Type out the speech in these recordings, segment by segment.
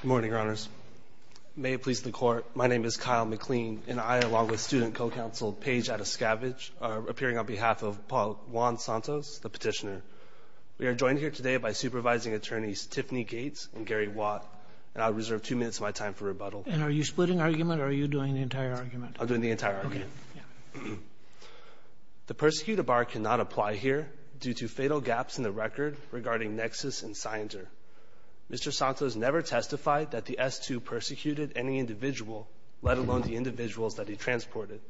Good morning, Your Honors. May it please the Court, my name is Kyle McLean and I, along with student co-counsel Paige Atascavage, are appearing on behalf of Paul Juan Santos, the petitioner. We are joined here today by supervising attorneys Tiffany Gates and Gary Watt, and I'll reserve two minutes of my time for rebuttal. And are you splitting argument or are you doing the entire argument? I'm doing the entire argument. Okay. The persecutor bar cannot apply here due to fatal gaps in the record regarding Nexus and Scienter. Mr. Santos never testified that the S-2 persecuted any individual, let alone the individuals that he transported.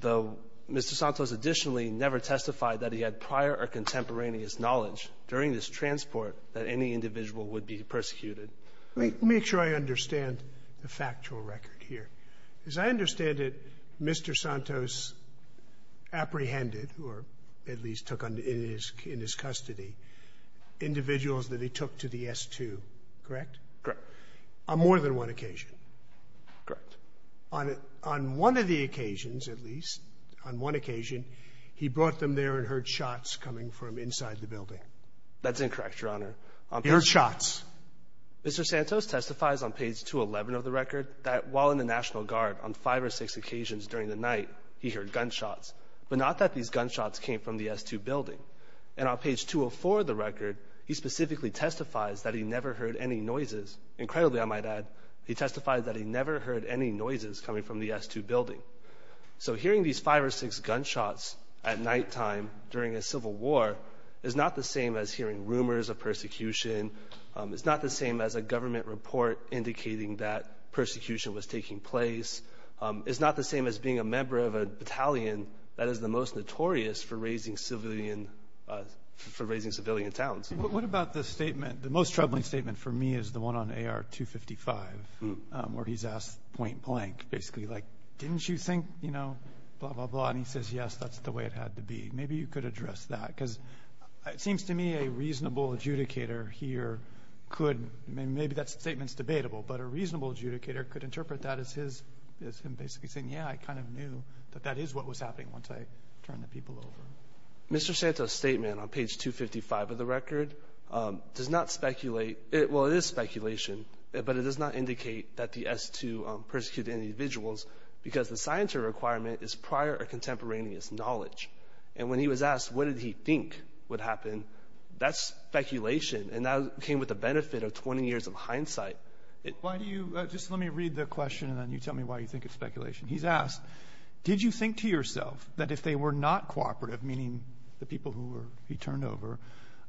Though Mr. Santos additionally never testified that he had prior or contemporaneous knowledge during this transport that any individual would be persecuted. Let me make sure I understand the factual record here. As I understand it, Mr. Santos apprehended, or at least took in his custody, individuals that he took to the S-2, correct? Correct. On more than one occasion. Correct. On one of the occasions, at least, on one occasion, he brought them there and heard shots coming from inside the building. That's incorrect, Your Honor. He heard shots. Mr. Santos testifies on page 211 of the record that while in the National Guard, on five or six occasions during the night, he heard gunshots, but not that these gunshots came from the S-2 building. And on page 204 of the record, he specifically testifies that he never heard any noises. Incredibly, I might add, he testified that he never heard any noises coming from the S-2 building. So hearing these five or six gunshots at nighttime during a civil war is not the same as hearing rumors of persecution. It's not the same as a government report indicating that persecution was taking place. It's not the same as being a member of a battalion that is the most notorious for raising civilian towns. What about the statement? The most troubling statement for me is the one on AR-255, where he's asked point-blank, basically, like, didn't you think, you know, blah, blah, blah. And he says, yes, that's the way it had to be. Maybe you could address that, because it seems to me a reasonable adjudicator here could – maybe that statement's debatable, but a reasonable adjudicator could interpret that as his – as him basically saying, yeah, I kind of knew that that is what was happening once I turned the people over. Mr. Santos' statement on page 255 of the record does not speculate – well, it is speculation, but it does not indicate that the S-2 persecuted individuals because the scientific requirement is prior or contemporaneous knowledge. And when he was asked what did he think would happen, that's speculation, and that came with the benefit of 20 years of hindsight. Why do you – just let me read the question, and then you tell me why you think it's speculation. He's asked, did you think to yourself that if they were not cooperative, meaning the people who he turned over,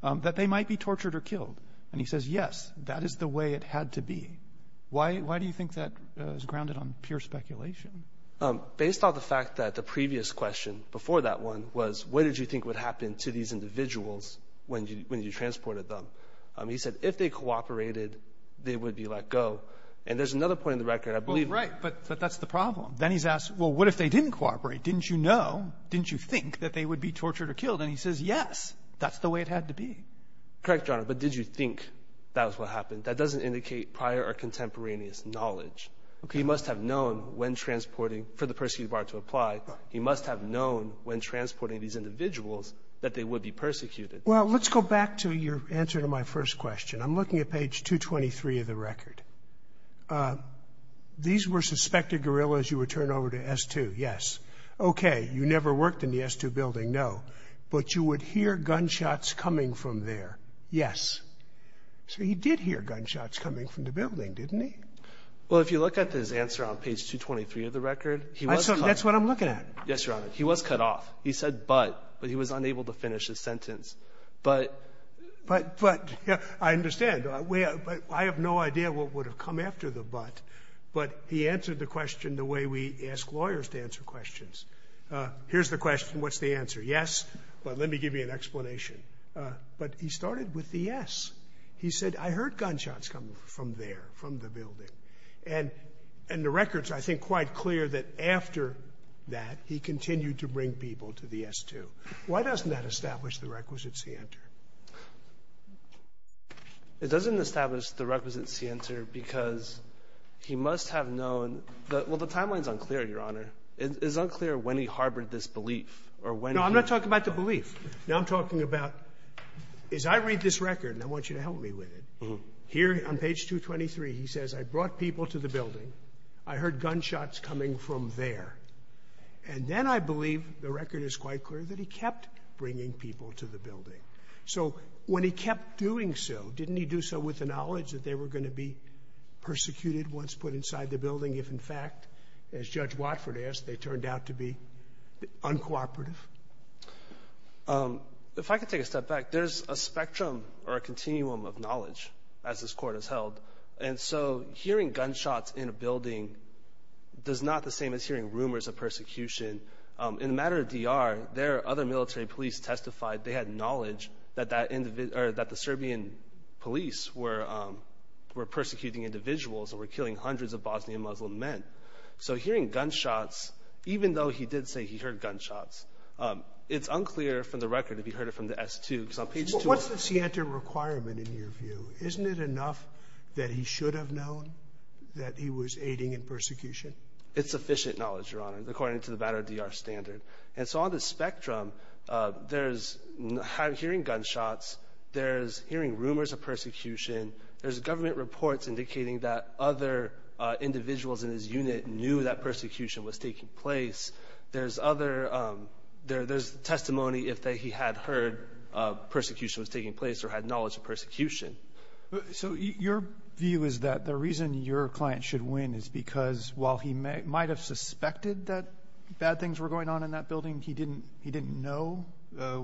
that they might be tortured or killed? And he says, yes, that is the way it had to be. Why do you think that is grounded on pure speculation? Based on the fact that the previous question before that one was, what did you think would happen to these individuals when you transported them? He said, if they cooperated, they would be let go. And there's another point in the record, I believe – Well, right, but that's the problem. Then he's asked, well, what if they didn't cooperate? Didn't you know, didn't you think that they would be tortured or killed? And he says, yes, that's the way it had to be. Correct, Your Honor. But did you think that was what happened? That doesn't indicate prior or contemporaneous knowledge. He must have known when transporting – for the persecuted bar to apply, he must have known when transporting these individuals that they would be persecuted. Well, let's go back to your answer to my first question. I'm looking at page 223 of the record. These were suspected guerrillas you would turn over to S-2, yes. Okay, you never worked in the S-2 building, no. But you would hear gunshots coming from there, yes. So he did hear gunshots coming from the building, didn't he? Well, if you look at his answer on page 223 of the record, he was cut off. That's what I'm looking at. Yes, Your Honor. He was cut off. He said but, but he was unable to finish his sentence. But – But, but, I understand. But I have no idea what would have come after the but. But he answered the question the way we ask lawyers to answer questions. Here's the question. What's the answer? Yes, but let me give you an explanation. But he started with the yes. He said, I heard gunshots coming from there, from the building. And the record's, I think, quite clear that after that, he continued to bring people to the S-2. Why doesn't that establish the requisite scienter? It doesn't establish the requisite scienter because he must have known – well, the timeline's unclear, Your Honor. It's unclear when he harbored this belief or when he – No, I'm not talking about the belief. No, I'm talking about as I read this record, and I want you to help me with it, here on page 223, he says, I brought people to the building. I heard gunshots coming from there. And then I believe the record is quite clear that he kept bringing people to the building. So when he kept doing so, didn't he do so with the knowledge that they were going to be persecuted once put inside the building if, in fact, as Judge Watford asked, they turned out to be uncooperative? If I could take a step back, there's a spectrum or a continuum of knowledge, as this Court has held. And so hearing gunshots in a building does not the same as hearing rumors of persecution. In the matter of DR, there are other military police testified. They had knowledge that that – or that the Serbian police were persecuting individuals or were killing hundreds of Bosnian Muslim men. So hearing gunshots, even though he did say he heard gunshots, it's unclear from the record if he heard it from the S2, because on page 213 – But what's the scienter requirement in your view? Isn't it enough that he should have known that he was aiding in persecution? It's sufficient knowledge, Your Honor, according to the matter of DR standard. And so on the spectrum, there's hearing gunshots, there's hearing rumors of persecution, there's government reports indicating that other individuals in his unit knew that persecution was taking place. There's other – there's testimony if he had heard persecution was taking place or had knowledge of persecution. So your view is that the reason your client should win is because while he might have suspected that bad things were going on in that building, he didn't know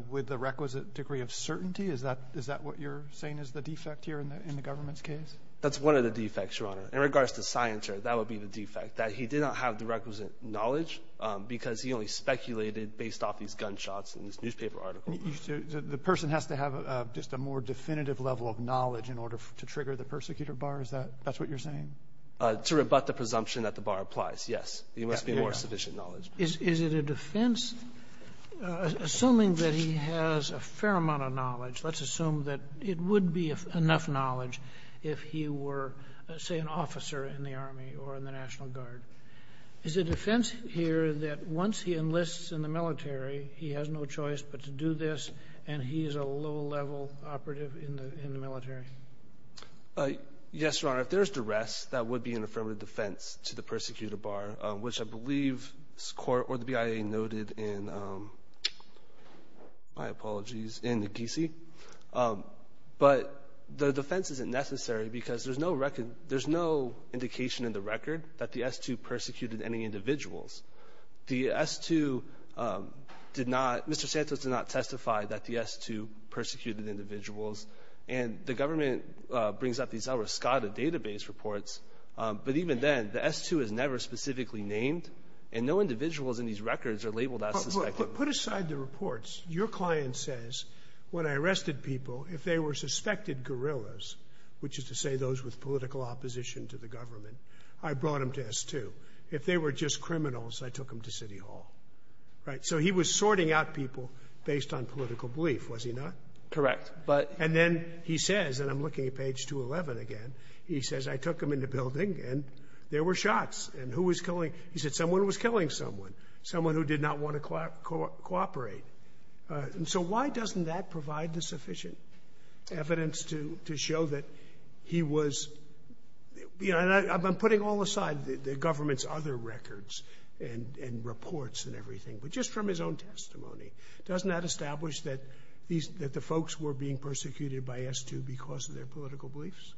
with the requisite degree of certainty? Is that what you're saying is the defect here in the government's case? That's one of the defects, Your Honor. In regards to scienter, that would be the defect, that he did not have the requisite knowledge because he only speculated based off these gunshots and this newspaper article. So the person has to have just a more definitive level of knowledge in order to trigger the persecutor bar? Is that – that's what you're saying? To rebut the presumption that the bar applies, yes. He must be more sufficient knowledge. Is it a defense – assuming that he has a fair amount of knowledge, let's assume that it would be enough knowledge if he were, say, an officer in the Army or in the National Guard. Is it a defense here that once he enlists in the military, he has no choice but to do this, and he is a low-level operative in the military? Yes, Your Honor. If there's duress, that would be an affirmative defense to the persecutor bar, which I believe this Court or the BIA noted in – my apologies – in the Casey. But the defense isn't necessary because there's no record – there's no indication in the record that the S-2 persecuted any individuals. The S-2 did not – Mr. Santos did not testify that the S-2 persecuted individuals, and the government brings up these El Rescate database reports. But even then, the S-2 is never specifically named, and no individuals in these records are labeled as suspected. But put aside the reports. Your client says, when I arrested people, if they were suspected guerrillas, which is to say those with political opposition to the government, I brought them to S-2. If they were just criminals, I took them to City Hall. Right? So he was sorting out people based on political belief, was he not? Correct. But – And then he says – and I'm looking at page 211 again – he says, I took him in the building, and there were shots. And who was killing – he said someone was killing someone, someone who did not want to cooperate. And so why doesn't that provide the sufficient evidence to show that he was – you know, the government's other records and reports and everything. But just from his own testimony, doesn't that establish that these – that the folks were being persecuted by S-2 because of their political beliefs?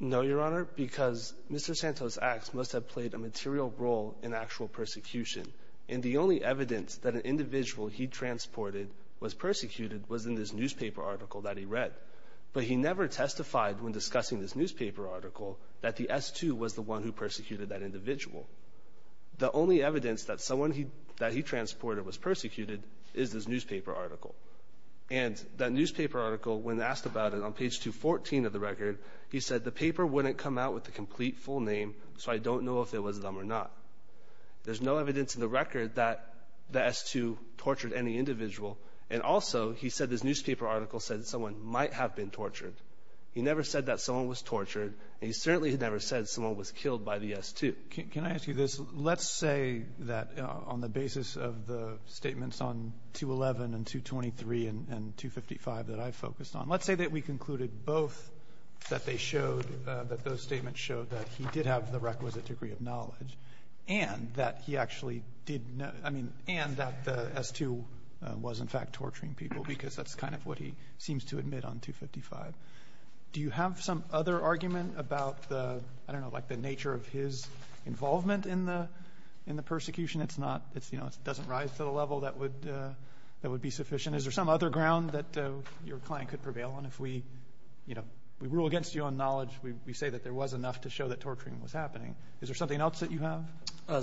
No, Your Honor, because Mr. Santos' acts must have played a material role in actual persecution. And the only evidence that an individual he transported was persecuted was in this newspaper article that he read. But he never testified when discussing this newspaper article that the S-2 was the individual. The only evidence that someone he – that he transported was persecuted is this newspaper article. And that newspaper article, when asked about it on page 214 of the record, he said the paper wouldn't come out with the complete, full name, so I don't know if it was them or not. There's no evidence in the record that the S-2 tortured any individual. And also, he said this newspaper article said that someone might have been tortured. He never said that someone was tortured, and he certainly had never said someone was killed by the S-2. Can I ask you this? Let's say that on the basis of the statements on 211 and 223 and 255 that I focused on, let's say that we concluded both that they showed – that those statements showed that he did have the requisite degree of knowledge and that he actually did – I mean, and that the S-2 was in fact torturing people, because that's kind of what he seems to admit on 255. Do you have some other argument about the – I don't know, like the nature of his involvement in the – in the persecution? It's not – it's, you know, it doesn't rise to the level that would – that would be sufficient. Is there some other ground that your client could prevail on if we, you know, we rule against you on knowledge? We say that there was enough to show that torturing was happening. Is there something else that you have?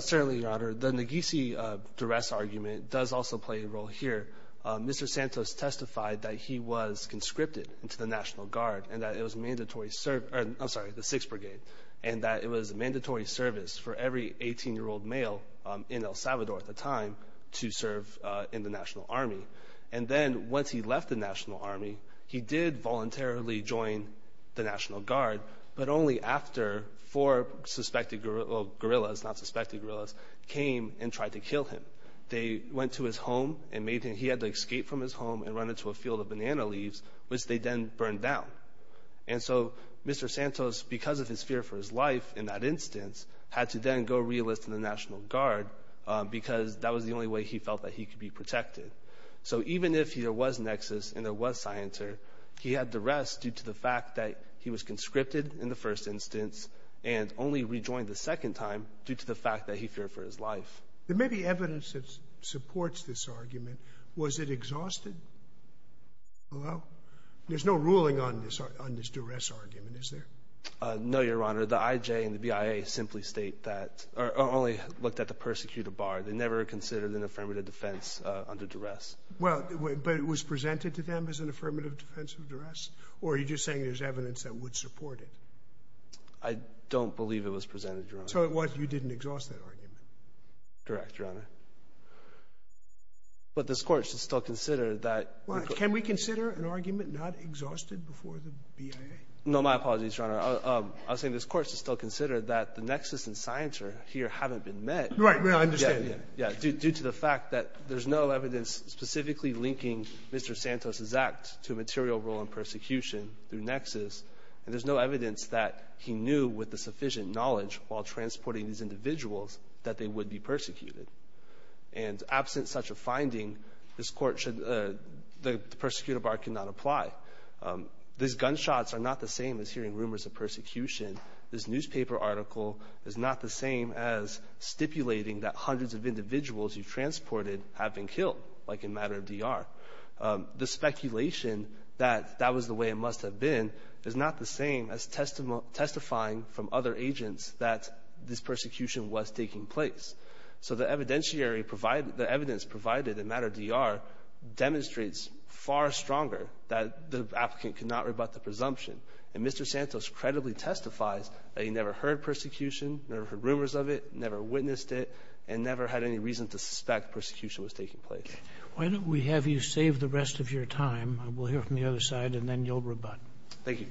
Certainly, Your Honor. The Neghisi duress argument does also play a role here. Mr. Santos testified that he was conscripted into the National Guard and that it was mandatory – I'm sorry, the 6th Brigade – and that it was a mandatory service for every 18-year-old male in El Salvador at the time to serve in the National Army. And then once he left the National Army, he did voluntarily join the National Guard, but only after four suspected – well, guerrillas, not suspected guerrillas came and tried to kill him. They went to his home and made him – he had to escape from his home and run into a field of banana leaves, which they then burned down. And so Mr. Santos, because of his fear for his life in that instance, had to then go re-enlist in the National Guard because that was the only way he felt that he could be protected. So even if there was nexus and there was scienter, he had duress due to the fact that he was conscripted in the first instance and only rejoined the second time due to the fact that he feared for his life. There may be evidence that supports this argument. Was it exhausted? Hello? There's no ruling on this duress argument, is there? No, Your Honor. The IJ and the BIA simply state that – or only looked at the persecuted bar. They never considered an affirmative defense under duress. Well, but it was presented to them as an affirmative defense of duress? Or are you just saying there's evidence that would support it? I don't believe it was presented, Your Honor. So it was you didn't exhaust that argument? Correct, Your Honor. But this Court should still consider that – Well, can we consider an argument not exhausted before the BIA? No. My apologies, Your Honor. I was saying this Court should still consider that the nexus and scienter here haven't been met. Right. I understand. Yeah. Yeah. Due to the fact that there's no evidence specifically linking Mr. Santos's act to a material role in persecution through nexus, and there's no evidence that he knew with the sufficient knowledge while transporting these individuals that they would be persecuted. And absent such a finding, this Court should – the persecutor bar cannot apply. These gunshots are not the same as hearing rumors of persecution. This newspaper article is not the same as stipulating that hundreds of individuals you've transported have been killed, like in matter of DR. The speculation that that was the way it must have been is not the same as testifying from other agents that this persecution was taking place. So the evidentiary provided – the evidence provided in matter of DR demonstrates far stronger that the applicant could not rebut the presumption. And Mr. Santos credibly testifies that he never heard persecution, never heard rumors of it, never witnessed it, and never had any reason to suspect persecution was taking place. Why don't we have you save the rest of your time, and we'll hear from the other side, and then you'll rebut. Thank you.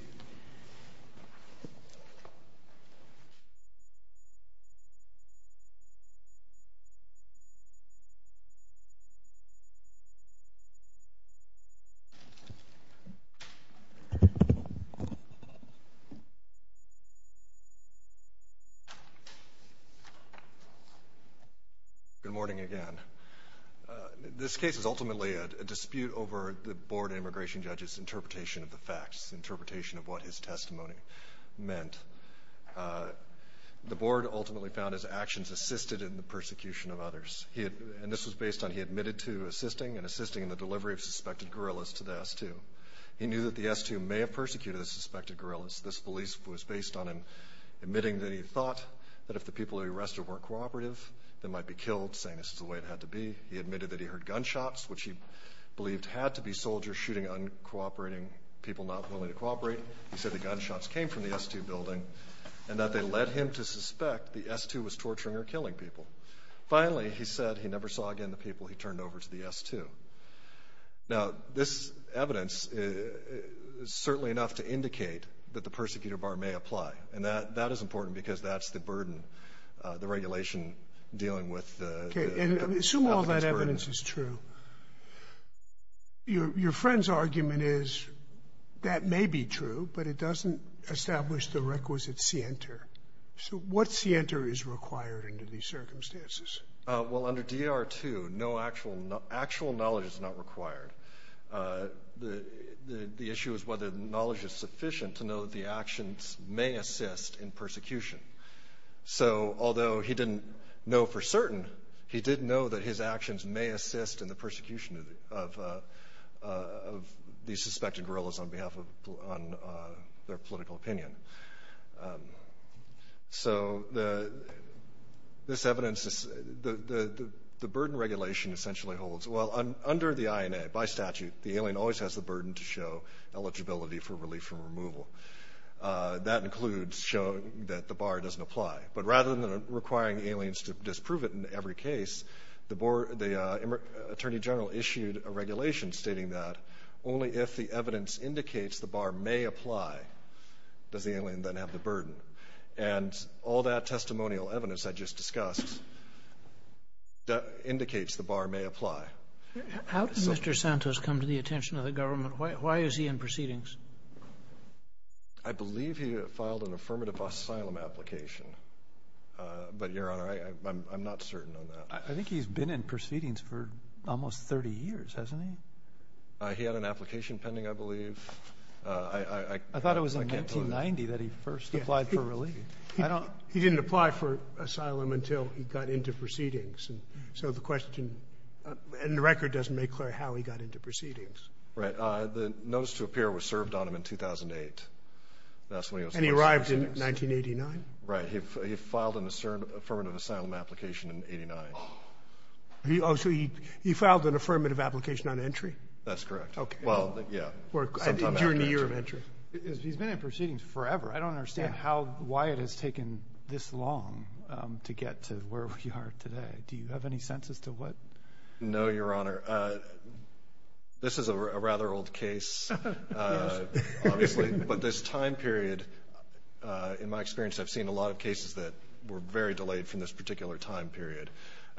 Good morning again. This case is ultimately a dispute over the Board of Immigration Judges' interpretation of the facts, interpretation of what his testimony meant. The Board ultimately found his actions assisted in the persecution of others, and this was based on he admitted to assisting and assisting in the delivery of suspected guerrillas to the S2. He knew that the S2 may have persecuted the suspected guerrillas. This belief was based on him admitting that he thought that if the people he arrested weren't cooperative, they might be killed, saying this is the way it had to be. He admitted that he heard gunshots, which he believed had to be soldiers shooting at the uncooperating people not willing to cooperate. He said the gunshots came from the S2 building, and that they led him to suspect the S2 was torturing or killing people. Finally, he said he never saw again the people he turned over to the S2. Now, this evidence is certainly enough to indicate that the persecutor bar may apply, and that is important because that's the burden, the regulation dealing with the competence burden. Okay. And assume all that evidence is true. Your friend's argument is that may be true, but it doesn't establish the requisite scienter. So what scienter is required under these circumstances? Well, under DR2, no actual knowledge is not required. The issue is whether the knowledge is sufficient to know that the actions may assist in persecution. So although he didn't know for certain, he did know that his actions may assist in the persecution of these suspected guerrillas on behalf of their political opinion. So this evidence, the burden regulation essentially holds. Well, under the INA, by statute, the alien always has the burden to show eligibility for relief from removal. That includes showing that the bar doesn't apply. But rather than requiring aliens to disprove it in every case, the Attorney General issued a regulation stating that only if the evidence indicates the bar may apply does the alien then have the burden. And all that testimonial evidence I just discussed indicates the bar may apply. How can Mr. Santos come to the attention of the government? Why is he in proceedings? I believe he filed an affirmative asylum application. But, Your Honor, I'm not certain on that. I think he's been in proceedings for almost 30 years, hasn't he? He had an application pending, I believe. I can't tell you. I thought it was in 1990 that he first applied for relief. He didn't apply for asylum until he got into proceedings. So the question in the record doesn't make clear how he got into proceedings. Right. The notice to appear was served on him in 2008. And he arrived in 1989? Right. He filed an affirmative asylum application in 1989. So he filed an affirmative application on entry? That's correct. Well, yeah. During the year of entry. He's been in proceedings forever. I don't understand why it has taken this long to get to where we are today. Do you have any sense as to what? No, Your Honor. This is a rather old case, obviously. But this time period, in my experience, I've seen a lot of cases that were very delayed from this particular time period.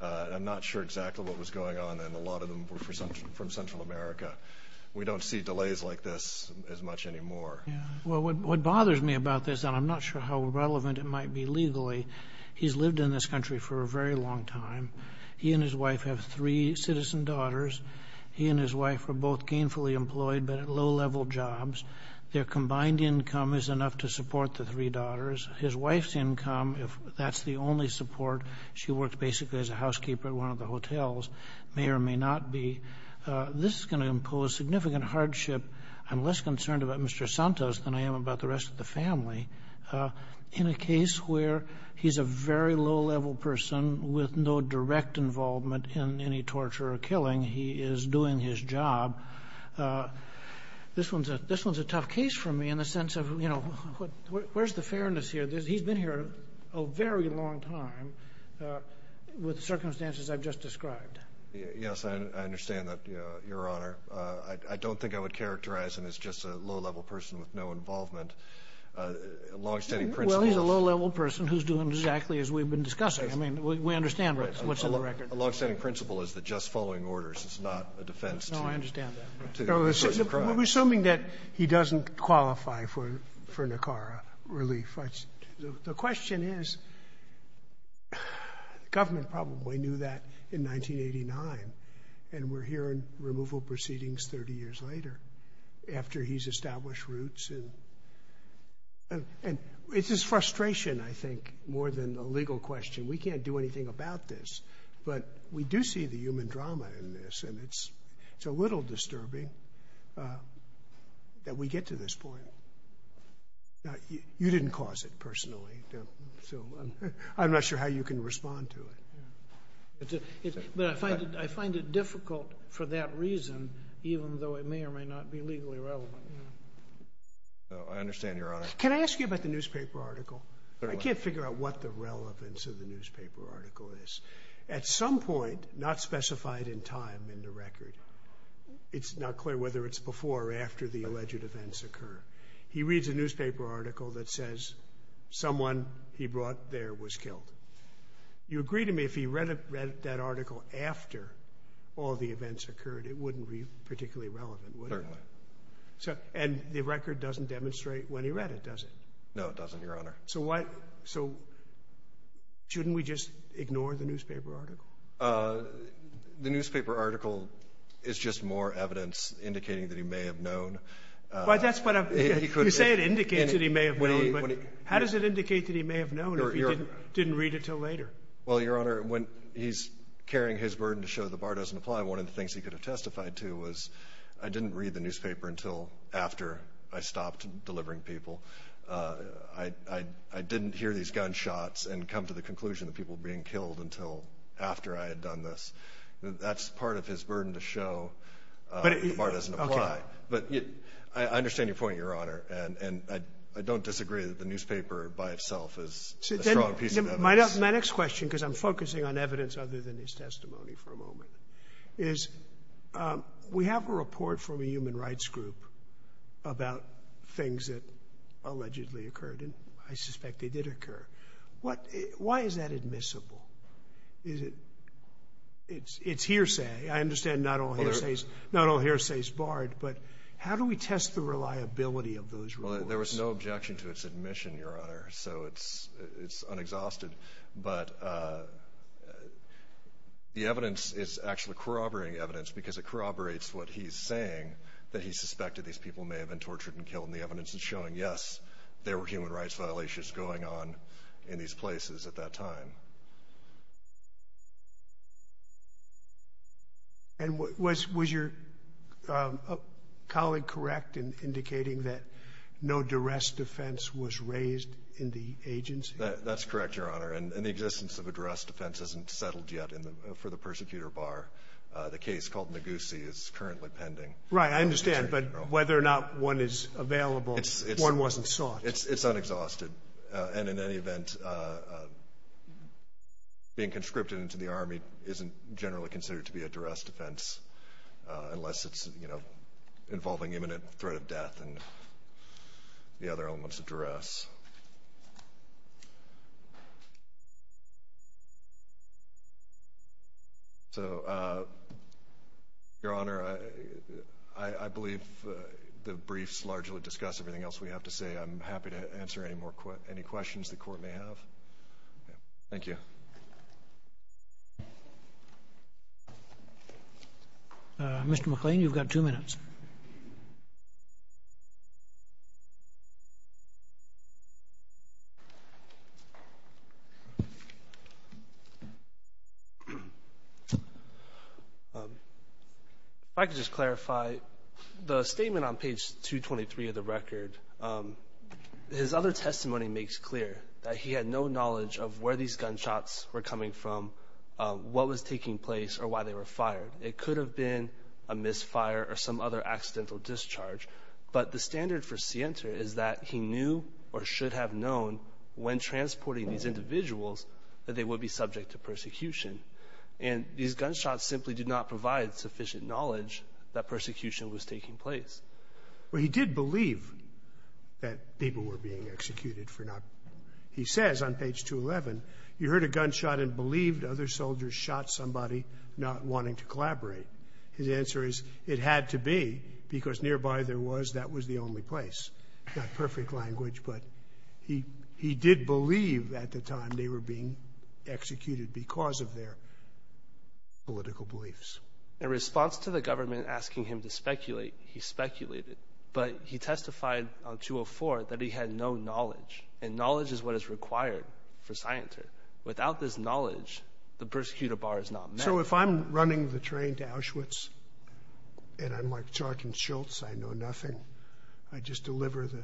I'm not sure exactly what was going on, and a lot of them were from Central America. We don't see delays like this as much anymore. Well, what bothers me about this, and I'm not sure how relevant it might be legally, he's lived in this country for a very long time. He and his wife have three citizen daughters. He and his wife are both gainfully employed but at low-level jobs. Their combined income is enough to support the three daughters. His wife's income, if that's the only support, she works basically as a housekeeper at one of the hotels, may or may not be. This is going to impose significant hardship. I'm less concerned about Mr. Santos than I am about the rest of the family. In a case where he's a very low-level person with no direct involvement in any torture or killing, he is doing his job. This one's a tough case for me in the sense of, you know, where's the fairness here? He's been here a very long time with circumstances I've just described. Yes, I understand that, Your Honor. I don't think I would characterize him as just a low-level person with no involvement. Long-standing principles. Well, he's a low-level person who's doing exactly as we've been discussing. I mean, we understand what's in the record. A long-standing principle is the just following orders. It's not a defense to certain crimes. No, I understand that. We're assuming that he doesn't qualify for Nicara relief. The question is, the government probably knew that in 1989, and we're hearing removal proceedings 30 years later after he's established roots. And it's just frustration, I think, more than a legal question. We can't do anything about this. But we do see the human drama in this, and it's a little disturbing that we get to this point. You didn't cause it personally, so I'm not sure how you can respond to it. But I find it difficult for that reason, even though it may or may not be legally relevant. I understand, Your Honor. Can I ask you about the newspaper article? I can't figure out what the relevance of the newspaper article is. At some point, not specified in time in the record, it's not clear whether it's before or after the alleged events occur, he reads a newspaper article that says someone he brought there was killed. You agree to me if he read that article after all the events occurred, it wouldn't be particularly relevant, would it? Certainly. And the record doesn't demonstrate when he read it, does it? No, it doesn't, Your Honor. So shouldn't we just ignore the newspaper article? The newspaper article is just more evidence indicating that he may have known. You say it indicates that he may have known, but how does it indicate that he may have known if he didn't read it until later? Well, Your Honor, when he's carrying his burden to show the bar doesn't apply, one of the things he could have testified to was, I didn't read the newspaper until after I stopped delivering people. I didn't hear these gunshots and come to the conclusion that people were being killed until after I had done this. That's part of his burden to show the bar doesn't apply. I understand your point, Your Honor, and I don't disagree that the newspaper by itself is a strong piece of evidence. My next question, because I'm focusing on evidence other than his testimony for a moment, is we have a report from a human rights group about things that allegedly occurred, and I suspect they did occur. Why is that admissible? It's hearsay. I understand not all hearsay is barred, but how do we test the reliability of those reports? Well, there was no objection to its admission, Your Honor, so it's unexhausted. But the evidence is actually corroborating evidence because it corroborates what he's saying, that he suspected these people may have been tortured and killed, and the evidence is showing, yes, there were human rights violations going on in these places at that time. And was your colleague correct in indicating that no duress defense was raised in the agency? That's correct, Your Honor, and the existence of a duress defense isn't settled yet for the persecutor bar. The case called Neguse is currently pending. Right, I understand. But whether or not one is available, one wasn't sought. It's unexhausted. And in any event, being conscripted into the Army isn't generally considered to be a duress defense, unless it's, you know, involving imminent threat of death and the other elements of duress. So, Your Honor, I believe the briefs largely discuss everything else we have to say. I'm happy to answer any questions the Court may have. Thank you. Mr. McClain, you've got two minutes. If I could just clarify, the statement on page 223 of the record, his other testimony makes clear that he had no knowledge of where these gunshots were coming from, what was taking place, or why they were fired. It could have been a misfire or some other accidental discharge. But the standard for Sienta is that he knew or should have known when transporting these individuals that they would be subject to persecution. And these gunshots simply did not provide sufficient knowledge that persecution was taking place. Well, he did believe that people were being executed for not – he says on page 211, you heard a gunshot and believed other soldiers shot somebody not wanting to collaborate. His answer is, it had to be, because nearby there was, that was the only place. Not perfect language, but he did believe at the time they were being executed because of their political beliefs. In response to the government asking him to speculate, he speculated. But he testified on 204 that he had no knowledge. And knowledge is what is required for Sienta. Without this knowledge, the persecutor bar is not met. So if I'm running the train to Auschwitz and I'm like Jordan Schultz, I know nothing. I just deliver the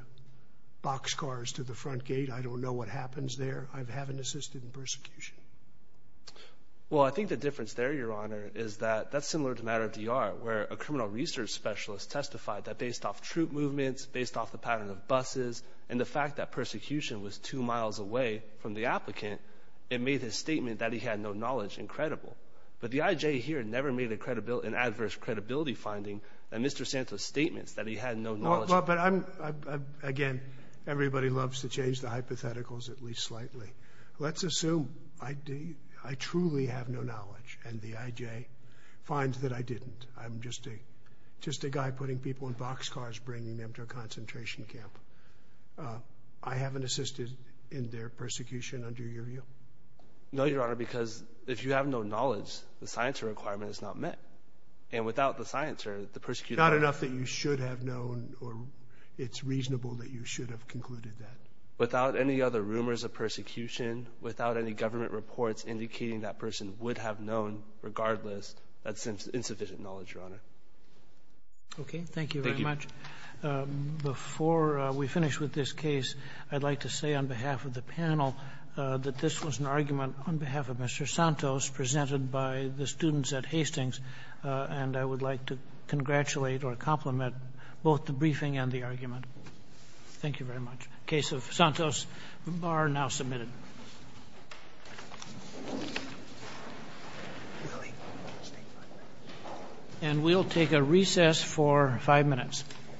boxcars to the front gate. I don't know what happens there. I haven't assisted in persecution. Well, I think the difference there, Your Honor, is that that's similar to Matter of the Art, where a criminal research specialist testified that based off troop movements, based off the pattern of buses, and the fact that persecution was two miles away from the applicant, it made his statement that he had no knowledge incredible. But the IJ here never made an adverse credibility finding in Mr. Sienta's statements that he had no knowledge. Again, everybody loves to change the hypotheticals at least slightly. Let's assume I truly have no knowledge, and the IJ finds that I didn't. I'm just a guy putting people in boxcars, bringing them to a concentration camp. I haven't assisted in their persecution under your view? No, Your Honor, because if you have no knowledge, the Sienta requirement is not met. And without the Sienta, the persecutor— Not enough that you should have known, or it's reasonable that you should have concluded that. Without any other rumors of persecution, without any government reports indicating that person would have known, regardless, that's insufficient knowledge, Your Honor. Okay. Thank you very much. Thank you. Before we finish with this case, I'd like to say on behalf of the panel that this was an argument on behalf of Mr. Santos presented by the students at Hastings, and I would like to congratulate or compliment both the briefing and the argument. Thank you very much. The case of Santos are now submitted. And we'll take a recess for five minutes.